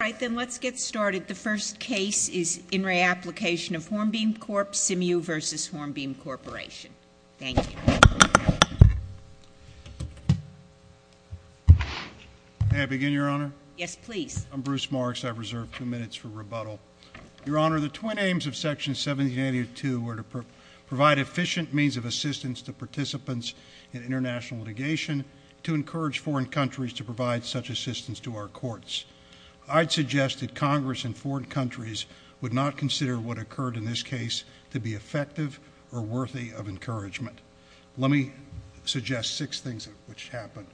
Alright then, let's get started. The first case is In Re. Application of Hornbeam Corp. Simu v. Hornbeam Corporation. Thank you. May I begin, Your Honor? Yes, please. I'm Bruce Marks. I've reserved a few minutes for rebuttal. Your Honor, the twin aims of Section 1782 were to provide efficient means of assistance to participants in international litigation, to encourage foreign countries to provide such assistance to our courts. I'd suggest that Congress and foreign countries would not consider what occurred in this case to be effective or worthy of encouragement. Let me suggest six things which happened.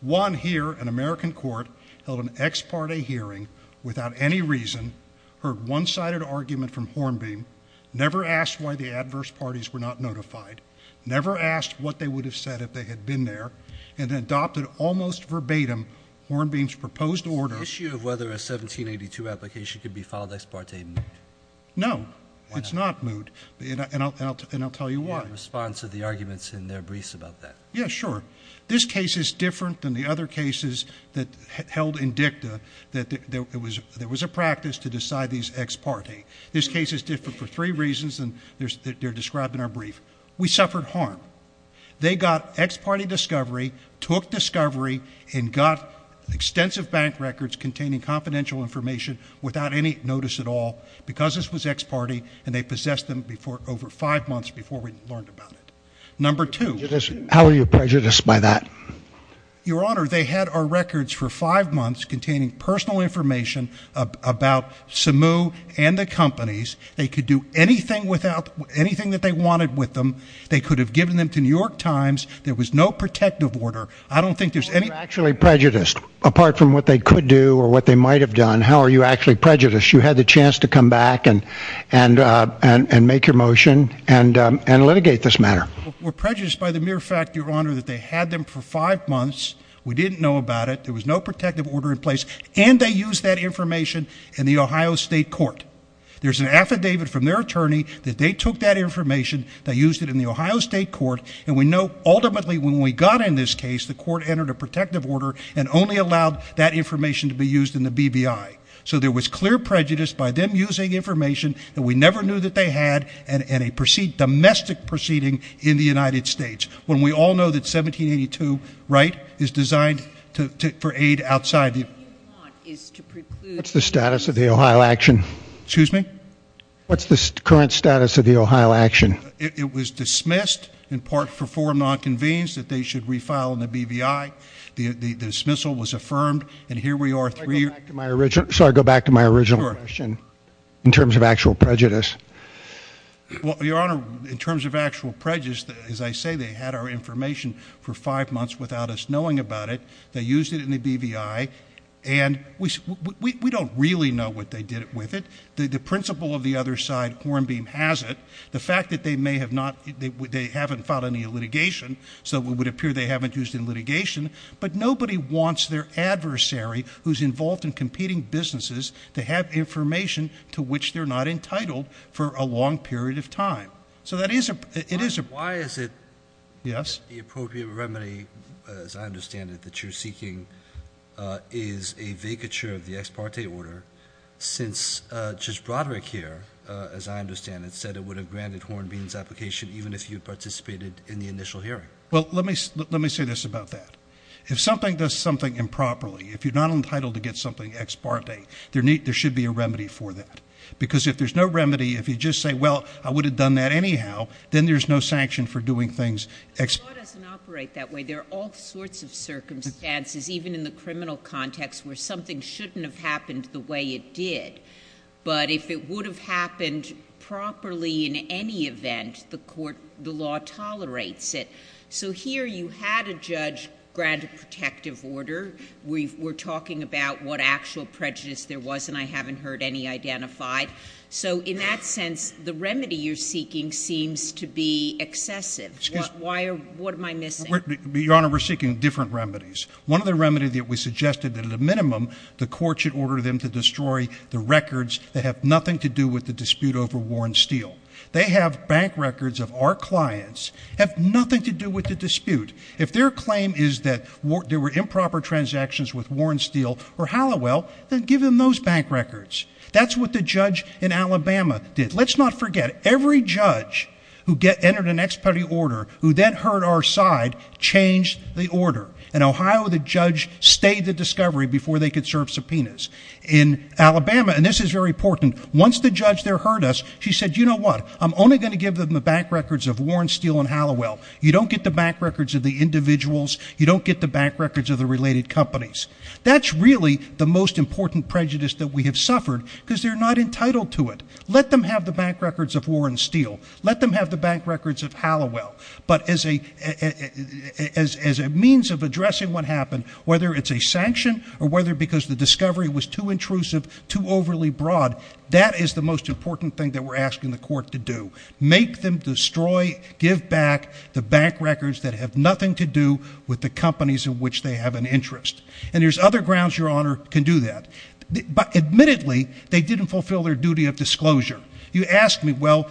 One here, an American court held an ex parte hearing without any reason, heard one-sided argument from Hornbeam, never asked why the adverse parties were not notified, never asked what they would have said if they had been there, and then adopted almost verbatim Hornbeam's proposed order Is the issue of whether a 1782 application could be filed ex parte moot? No, it's not moot, and I'll tell you why. In response to the arguments in their briefs about that. Yeah, sure. This case is different than the other cases that held in dicta that there was a practice to decide these ex parte. This case is different for three reasons, and they're described in our brief. We suffered harm. They got ex parte discovery, took discovery, and got extensive bank records containing confidential information without any notice at all because this was ex parte, and they possessed them over five months before we learned about it. Number two. How are you prejudiced by that? Your Honor, they had our records for five months containing personal information about Samu and the companies. They could do anything that they wanted with them. They could have given them to New York Times. There was no protective order. I don't think there's any... You're actually prejudiced. Apart from what they could do or what they might have done, how are you actually prejudiced? You had the chance to come back and make your motion and litigate this matter. We're prejudiced by the mere fact, Your Honor, that they had them for five months. We didn't know about it. There was no protective order in place, and they used that information in the Ohio State Court. There's an affidavit from their attorney that they took that information. They used it in the Ohio State Court, and we know ultimately when we got in this case, the court entered a protective order and only allowed that information to be used in the BBI. So there was clear prejudice by them using information that we never knew that they had and a domestic proceeding in the United States, when we all know that 1782, right, is designed for aid outside the... What you want is to preclude... What's the status of the Ohio action? Excuse me? What's the current status of the Ohio action? It was dismissed in part for forum nonconvenience that they should refile in the BBI. The dismissal was affirmed, and here we are three years... Sorry, go back to my original question in terms of actual prejudice. Well, Your Honor, in terms of actual prejudice, as I say, they had our information for five months without us knowing about it. They used it in the BBI, and we don't really know what they did with it. The principal of the other side, Hornbeam, has it. The fact that they may have not... They haven't filed any litigation, so it would appear they haven't used it in litigation, but nobody wants their adversary, who's involved in competing businesses, to have information to which they're not entitled for a long period of time. So that is a... Why is it... Yes? The appropriate remedy, as I understand it, that you're seeking, is a vacature of the ex parte order since Judge Broderick here, as I understand it, said it would have granted Hornbeam's application even if he had participated in the initial hearing. Well, let me say this about that. If something does something improperly, if you're not entitled to get something ex parte, there should be a remedy for that. Because if there's no remedy, if you just say, well, I would have done that anyhow, then there's no sanction for doing things ex... The law doesn't operate that way. There are all sorts of circumstances, even in the criminal context, where something shouldn't have happened the way it did. But if it would have happened properly in any event, the court, the law tolerates it. So here you had a judge grant a protective order. We're talking about what actual prejudice there was, and I haven't heard any identified. So in that sense, the remedy you're seeking seems to be excessive. Why are... What am I missing? Your Honor, we're seeking different remedies. One of the remedies that we suggested that at a minimum the court should order them to destroy the records that have nothing to do with the dispute over Warren Steele. They have bank records of our clients, have nothing to do with the dispute. If their claim is that there were improper transactions with Warren Steele or Halliwell, then give them those bank records. That's what the judge in Alabama did. Let's not forget, every judge who entered an ex parte order, who then heard our side, changed the order. In Ohio, the judge stayed the discovery before they could serve subpoenas. In Alabama, and this is very important, once the judge there heard us, she said, you know what, I'm only going to give them the bank records of Warren Steele and Halliwell. You don't get the bank records of the individuals. You don't get the bank records of the related companies. That's really the most important prejudice that we have suffered because they're not entitled to it. Let them have the bank records of Warren Steele. Let them have the bank records of Halliwell. But as a means of addressing what happened, whether it's a sanction or whether because the discovery was too intrusive, too overly broad, that is the most important thing that we're asking the court to do. Make them destroy, give back the bank records that have nothing to do with the companies in which they have an interest. And there's other grounds your honor can do that. But admittedly, they didn't fulfill their duty of disclosure. You ask me, well,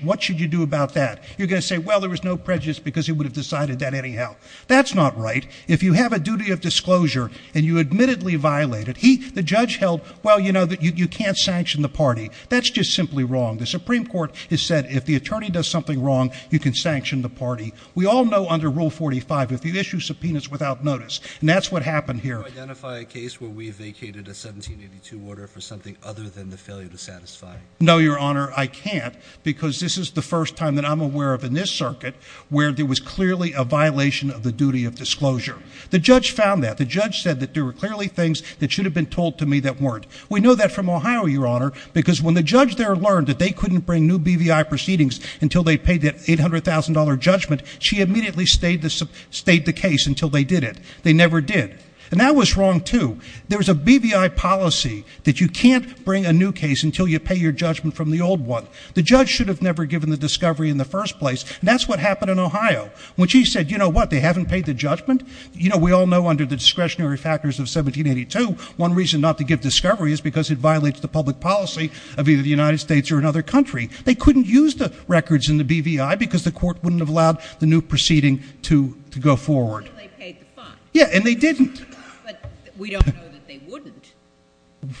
what should you do about that? You're going to say, well, there was no prejudice because he would have decided that anyhow. That's not right. If you have a duty of disclosure and you admittedly violate it, the judge held, well, you know, you can't sanction the party. That's just simply wrong. The Supreme Court has said if the attorney does something wrong, you can sanction the party. We all know under Rule 45, if you issue subpoenas without notice, and that's what happened here. Can you identify a case where we vacated a 1782 order for something other than the failure to satisfy? No, your honor, I can't, because this is the first time that I'm aware of in this circuit where there was clearly a violation of the duty of disclosure. The judge found that. The judge said that there were clearly things that should have been told to me that weren't. We know that from Ohio, your honor, because when the judge there learned that they couldn't bring new BVI proceedings until they paid that $800,000 judgment, she immediately stayed the case until they did it. They never did. And that was wrong, too. There was a BVI policy that you can't bring a new case until you pay your judgment from the old one. The judge should have never given the discovery in the first place, and that's what happened in Ohio. When she said, you know what, they haven't paid the judgment, you know, we all know under the discretionary factors of 1782, one reason not to give discovery is because it violates the public policy of either the United States or another country. They couldn't use the records in the BVI because the court wouldn't have allowed the new proceeding to go forward. I think they paid the fine. Yeah, and they didn't. But we don't know that they wouldn't.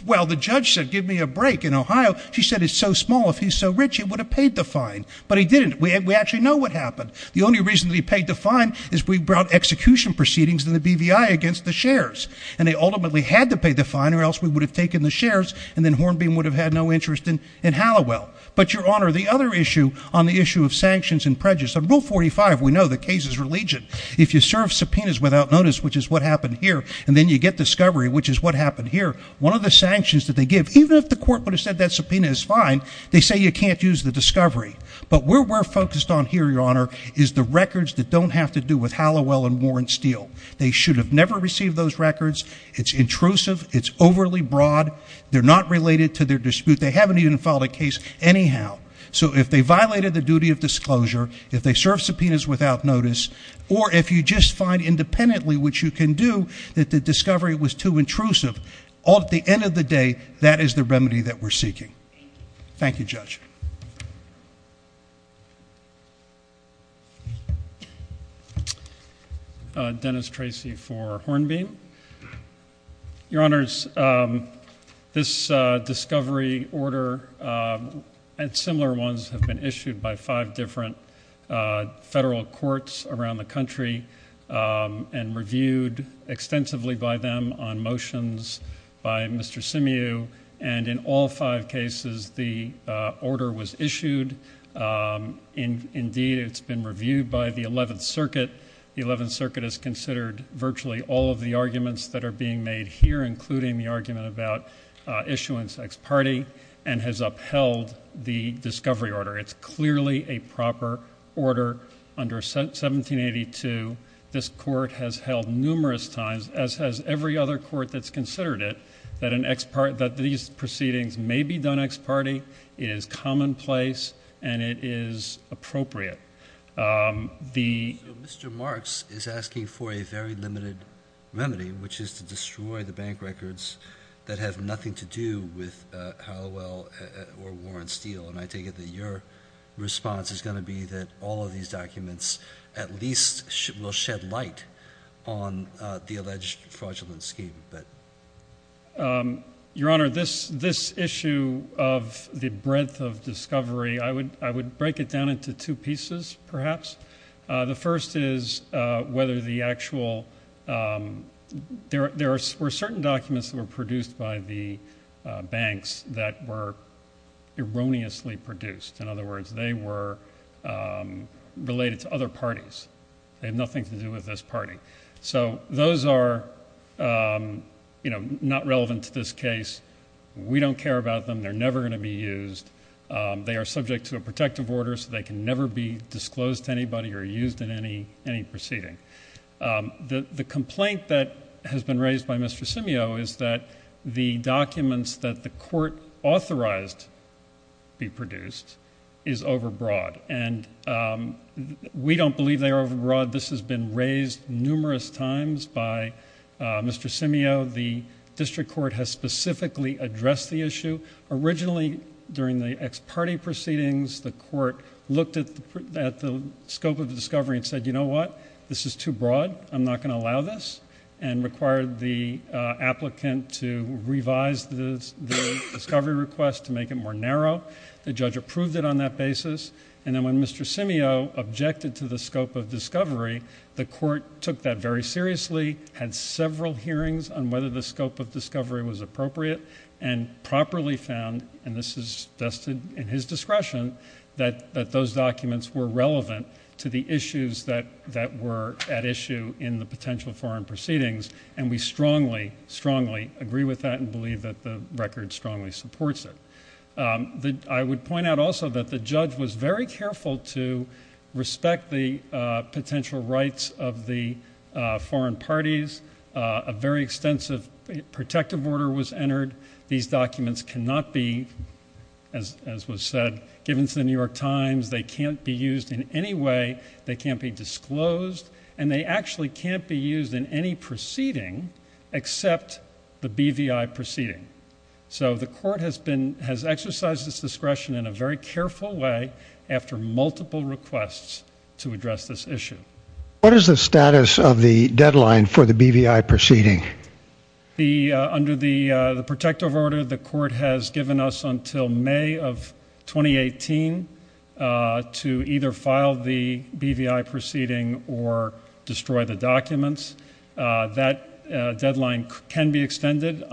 Well, the judge said, give me a break. In Ohio, she said it's so small, if he's so rich, he would have paid the fine. But he didn't. We actually know what happened. The only reason that he paid the fine is we brought execution proceedings in the BVI against the shares, and they ultimately had to pay the fine or else we would have taken the shares and then Hornbeam would have had no interest in Halliwell. But, your honor, the other issue on the issue of sanctions and prejudice, on Rule 45, we know the case is religion. If you serve subpoenas without notice, which is what happened here, and then you get discovery, which is what happened here, one of the sanctions that they give, even if the court would have said that subpoena is fine, they say you can't use the discovery. But where we're focused on here, your honor, is the records that don't have to do with Halliwell and Warren Steele. They should have never received those records. It's intrusive. It's overly broad. They're not related to their dispute. They haven't even filed a case anyhow. So if they violated the duty of disclosure, if they serve subpoenas without notice, or if you just find independently what you can do that the discovery was too intrusive, at the end of the day, that is the remedy that we're seeking. Thank you, Judge. Dennis Tracy for Hornbeam. Your honors, this discovery order and similar ones have been issued by five different federal courts around the country and reviewed extensively by them on motions by Mr. Simmew. And in all five cases, the order was issued. Indeed, it's been reviewed by the Eleventh Circuit. The Eleventh Circuit has considered virtually all of the arguments that are being made here, including the argument about issuance ex parte and has upheld the discovery order. It's clearly a proper order. Under 1782, this court has held numerous times, as has every other court that's considered it, that these proceedings may be done ex parte, it is commonplace, and it is appropriate. So Mr. Marks is asking for a very limited remedy, which is to destroy the bank records that have nothing to do with Hallowell or Warren Steele. And I take it that your response is going to be that all of these documents at least will shed light on the alleged fraudulent scheme. Your Honor, this issue of the breadth of discovery, I would break it down into two pieces, perhaps. The first is whether the actual – there were certain documents that were produced by the banks that were erroneously produced. In other words, they were related to other parties. They had nothing to do with this party. So those are not relevant to this case. We don't care about them. They're never going to be used. They are subject to a protective order, so they can never be disclosed to anybody or used in any proceeding. The complaint that has been raised by Mr. Simio is that the documents that the court authorized be produced is overbroad, and we don't believe they are overbroad. This has been raised numerous times by Mr. Simio. The district court has specifically addressed the issue. Originally, during the ex parte proceedings, the court looked at the scope of the discovery and said, you know what, this is too broad, I'm not going to allow this, and required the applicant to revise the discovery request to make it more narrow. The judge approved it on that basis. And then when Mr. Simio objected to the scope of discovery, the court took that very seriously, had several hearings on whether the scope of discovery was appropriate, and properly found, and this is vested in his discretion, that those documents were relevant to the issues that were at issue in the potential foreign proceedings, and we strongly, strongly agree with that and believe that the record strongly supports it. I would point out also that the judge was very careful to respect the potential rights of the foreign parties. A very extensive protective order was entered. These documents cannot be, as was said, given to the New York Times. They can't be used in any way. They can't be disclosed, and they actually can't be used in any proceeding except the BVI proceeding. So the court has exercised its discretion in a very careful way after multiple requests to address this issue. What is the status of the deadline for the BVI proceeding? Under the protective order, the court has given us until May of 2018 to either file the BVI proceeding or destroy the documents. That deadline can be extended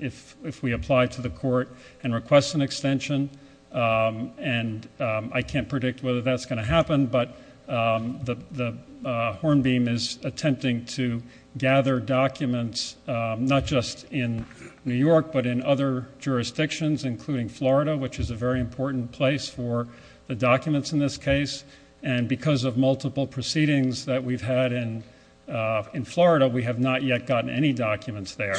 if we apply to the court and request an extension, and I can't predict whether that's going to happen, but the Hornbeam is attempting to gather documents not just in New York but in other jurisdictions, including Florida, which is a very important place for the documents in this case, and because of multiple proceedings that we've had in Florida, we have not yet gotten any documents there,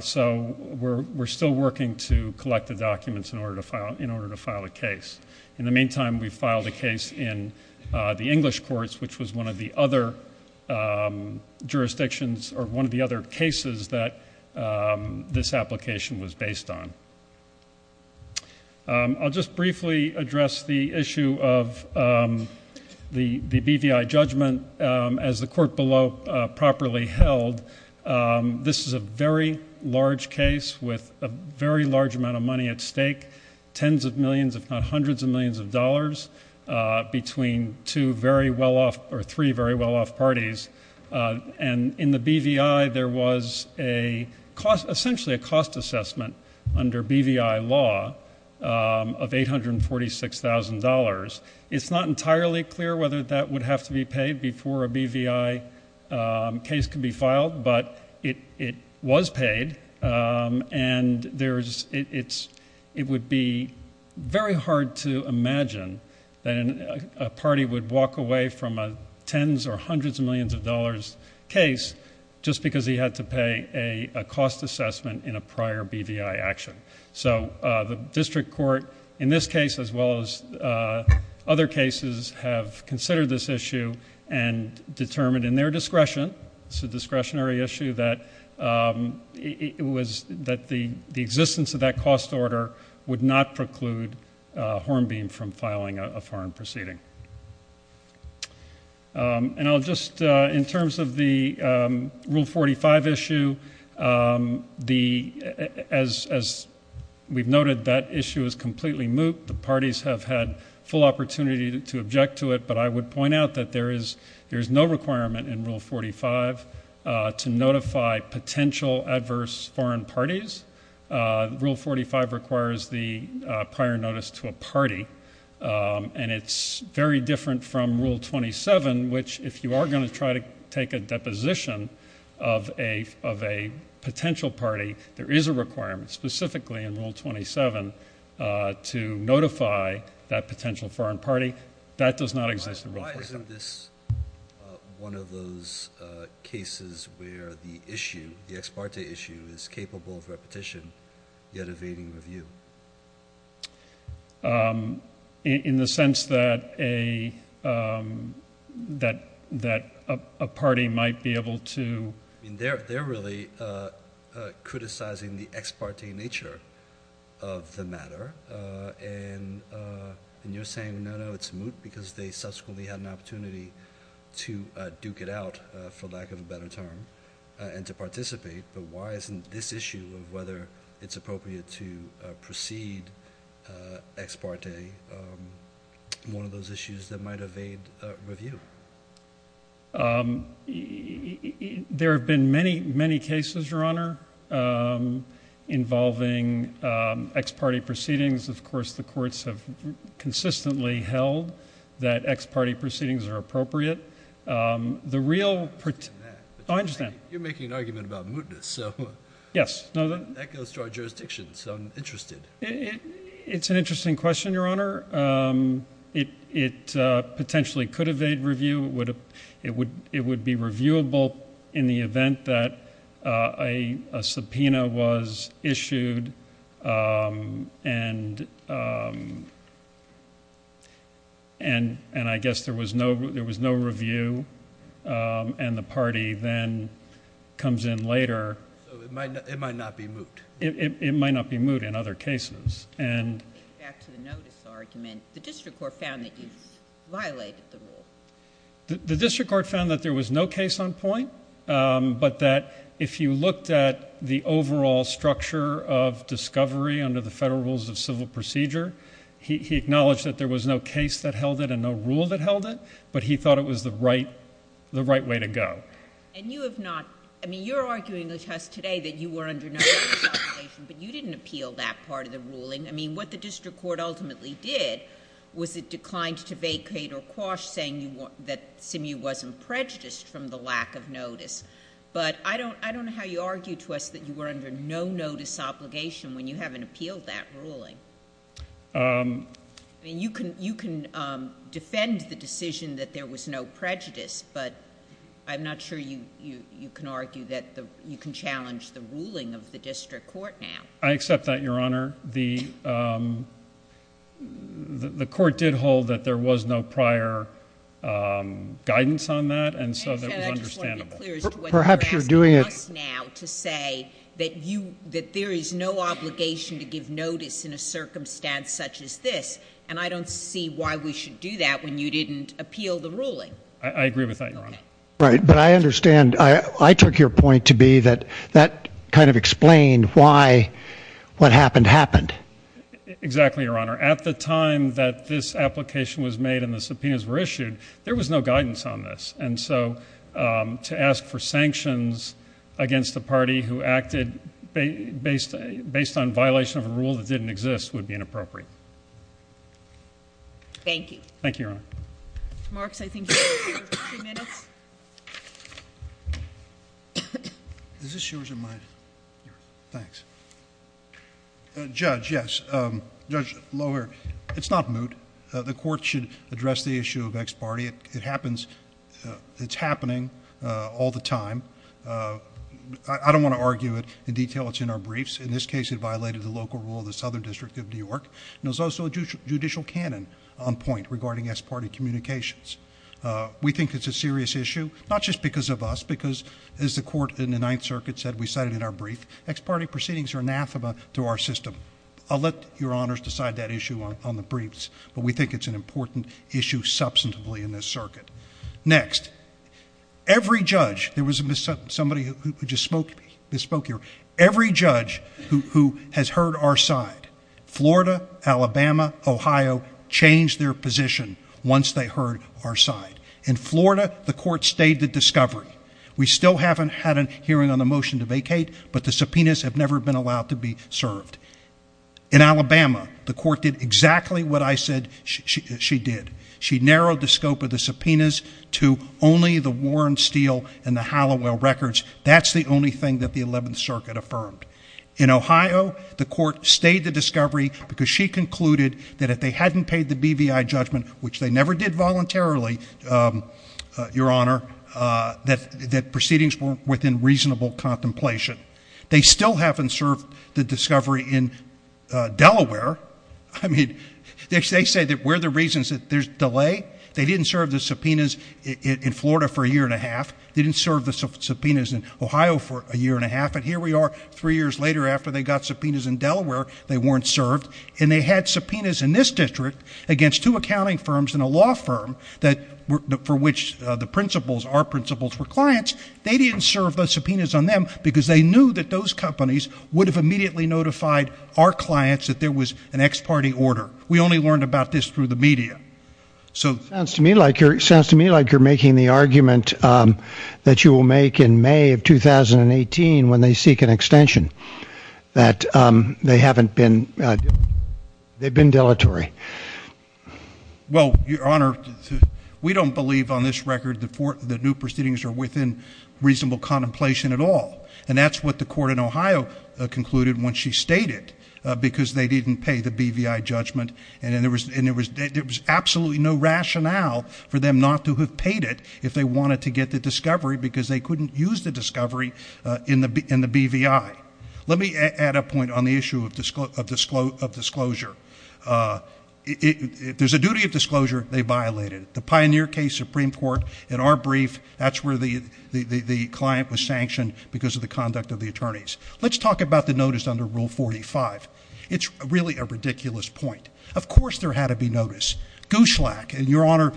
so we're still working to collect the documents in order to file a case. In the meantime, we've filed a case in the English courts, which was one of the other jurisdictions or one of the other cases that this application was based on. I'll just briefly address the issue of the BVI judgment. As the court below properly held, this is a very large case with a very large amount of money at stake, tens of millions if not hundreds of millions of dollars between two very well-off or three very well-off parties, and in the BVI there was essentially a cost assessment under BVI law of $846,000. It's not entirely clear whether that would have to be paid before a BVI case could be filed, but it was paid, and it would be very hard to imagine that a party would walk away from a tens or hundreds of millions of dollars case just because he had to pay a cost assessment in a prior BVI action. So the district court in this case as well as other cases have considered this issue and determined in their discretion, it's a discretionary issue, that the existence of that cost order would not preclude Hornbeam from filing a foreign proceeding. In terms of the Rule 45 issue, as we've noted, that issue is completely moot. The parties have had full opportunity to object to it, but I would point out that there is no requirement in Rule 45 to notify potential adverse foreign parties. Rule 45 requires the prior notice to a party, and it's very different from Rule 27, which if you are going to try to take a deposition of a potential party, there is a requirement specifically in Rule 27 to notify that potential foreign party. That does not exist in Rule 45. Why isn't this one of those cases where the issue, the ex parte issue, is capable of repetition yet evading review? In the sense that a party might be able to – they're really criticizing the ex parte nature of the matter, and you're saying no, no, it's moot because they subsequently had an opportunity to duke it out, for lack of a better term, and to participate. But why isn't this issue of whether it's appropriate to proceed ex parte one of those issues that might evade review? There have been many, many cases, Your Honor, involving ex parte proceedings. Of course, the courts have consistently held that ex parte proceedings are appropriate. You're making an argument about mootness, so that goes to our jurisdiction, so I'm interested. It's an interesting question, Your Honor. It potentially could evade review. It would be reviewable in the event that a subpoena was issued, and I guess there was no review, and the party then comes in later. So it might not be moot. It might not be moot in other cases. Back to the notice argument, the district court found that you violated the rule. The district court found that there was no case on point, but that if you looked at the overall structure of discovery under the federal rules of civil procedure, he acknowledged that there was no case that held it and no rule that held it, but he thought it was the right way to go. And you have not – I mean, you're arguing with us today that you were under no notice of violation, but you didn't appeal that part of the ruling. I mean, what the district court ultimately did was it declined to vacate or quash saying that Simu wasn't prejudiced from the lack of notice. But I don't know how you argue to us that you were under no notice obligation when you haven't appealed that ruling. I mean, you can defend the decision that there was no prejudice, but I'm not sure you can argue that you can challenge the ruling of the district court now. I accept that, Your Honor. The court did hold that there was no prior guidance on that, and so that was understandable. Perhaps you're doing it – You're asking us now to say that there is no obligation to give notice in a circumstance such as this, and I don't see why we should do that when you didn't appeal the ruling. I agree with that, Your Honor. Right, but I understand. I took your point to be that that kind of explained why what happened happened. Exactly, Your Honor. At the time that this application was made and the subpoenas were issued, there was no guidance on this. And so to ask for sanctions against a party who acted based on violation of a rule that didn't exist would be inappropriate. Thank you. Thank you, Your Honor. Marks, I think you have a few minutes. Is this yours or mine? Yours. Thanks. Judge, yes. Judge Lohr, it's not moot. The court should address the issue of ex parte. It happens. It's happening all the time. I don't want to argue it in detail. It's in our briefs. In this case, it violated the local rule of the Southern District of New York. And there's also a judicial canon on point regarding ex parte communications. We think it's a serious issue, not just because of us, because as the court in the Ninth Circuit said, we cite it in our brief. Ex parte proceedings are anathema to our system. I'll let Your Honors decide that issue on the briefs, but we think it's an important issue substantively in this circuit. Next. Every judge, there was somebody who just spoke here, every judge who has heard our side, Florida, Alabama, Ohio, changed their position once they heard our side. In Florida, the court stayed the discovery. We still haven't had a hearing on the motion to vacate, but the subpoenas have never been allowed to be served. In Alabama, the court did exactly what I said she did. She narrowed the scope of the subpoenas to only the Warren, Steele, and the Hallowell records. That's the only thing that the Eleventh Circuit affirmed. In Ohio, the court stayed the discovery because she concluded that if they hadn't paid the BVI judgment, which they never did voluntarily, Your Honor, that proceedings were within reasonable contemplation. They still haven't served the discovery in Delaware. I mean, they say that we're the reasons that there's delay. They didn't serve the subpoenas in Florida for a year and a half. They didn't serve the subpoenas in Ohio for a year and a half. And here we are three years later after they got subpoenas in Delaware. They weren't served. And they had subpoenas in this district against two accounting firms and a law firm for which the principles, our principles, were clients. They didn't serve the subpoenas on them because they knew that those companies would have immediately notified our clients that there was an ex parte order. We only learned about this through the media. It sounds to me like you're making the argument that you will make in May of 2018 when they seek an extension, that they haven't been, they've been deletery. Well, Your Honor, we don't believe on this record that new proceedings are within reasonable contemplation at all. And that's what the court in Ohio concluded when she stated because they didn't pay the BVI judgment. And there was absolutely no rationale for them not to have paid it if they wanted to get the discovery because they couldn't use the discovery in the BVI. Let me add a point on the issue of disclosure. If there's a duty of disclosure, they violated it. The Pioneer case, Supreme Court, in our brief, that's where the client was sanctioned because of the conduct of the attorneys. Let's talk about the notice under Rule 45. It's really a ridiculous point. Of course there had to be notice. And, Your Honor,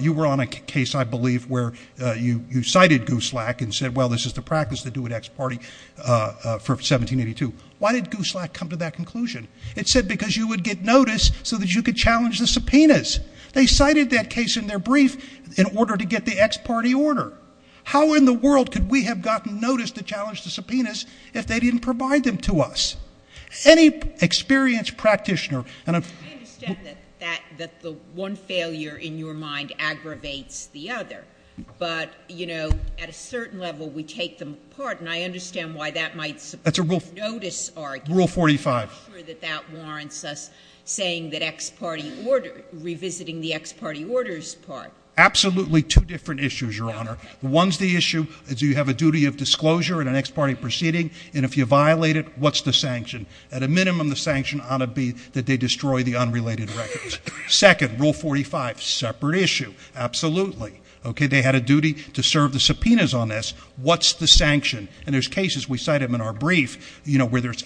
you were on a case, I believe, where you cited Gooselack and said, well, this is the practice they do at ex parte for 1782. Why did Gooselack come to that conclusion? It said because you would get notice so that you could challenge the subpoenas. They cited that case in their brief in order to get the ex parte order. How in the world could we have gotten notice to challenge the subpoenas if they didn't provide them to us? Any experienced practitioner. I understand that the one failure in your mind aggravates the other. But, you know, at a certain level, we take them apart, and I understand why that might support the notice argument. Rule 45. I'm not sure that that warrants us saying that revisiting the ex parte order is part. Absolutely two different issues, Your Honor. One's the issue. Do you have a duty of disclosure in an ex parte proceeding? And if you violate it, what's the sanction? At a minimum, the sanction ought to be that they destroy the unrelated records. Second, Rule 45. Separate issue. Absolutely. Okay. They had a duty to serve the subpoenas on this. What's the sanction? And there's cases, we cite them in our brief, you know, where there's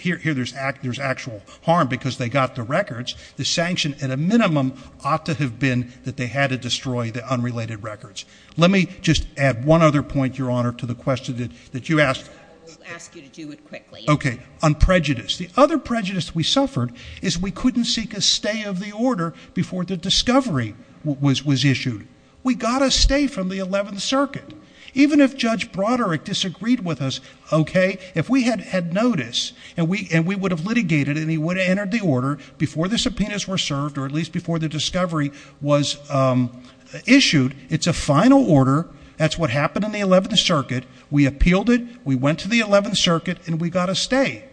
actual harm because they got the records. The sanction, at a minimum, ought to have been that they had to destroy the unrelated records. Let me just add one other point, Your Honor, to the question that you asked. I will ask you to do it quickly. Okay. On prejudice. The other prejudice we suffered is we couldn't seek a stay of the order before the discovery was issued. We got a stay from the 11th Circuit. Even if Judge Broderick disagreed with us, okay, if we had had notice and we would have litigated and he would have entered the order before the subpoenas were served or at least before the discovery was issued, it's a final order. That's what happened in the 11th Circuit. We appealed it. We went to the 11th Circuit, and we got a stay.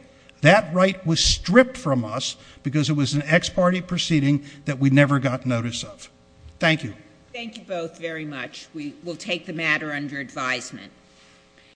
That right was stripped from us because it was an ex parte proceeding that we never got notice of. Thank you. Thank you both very much. We will take the matter under advisement.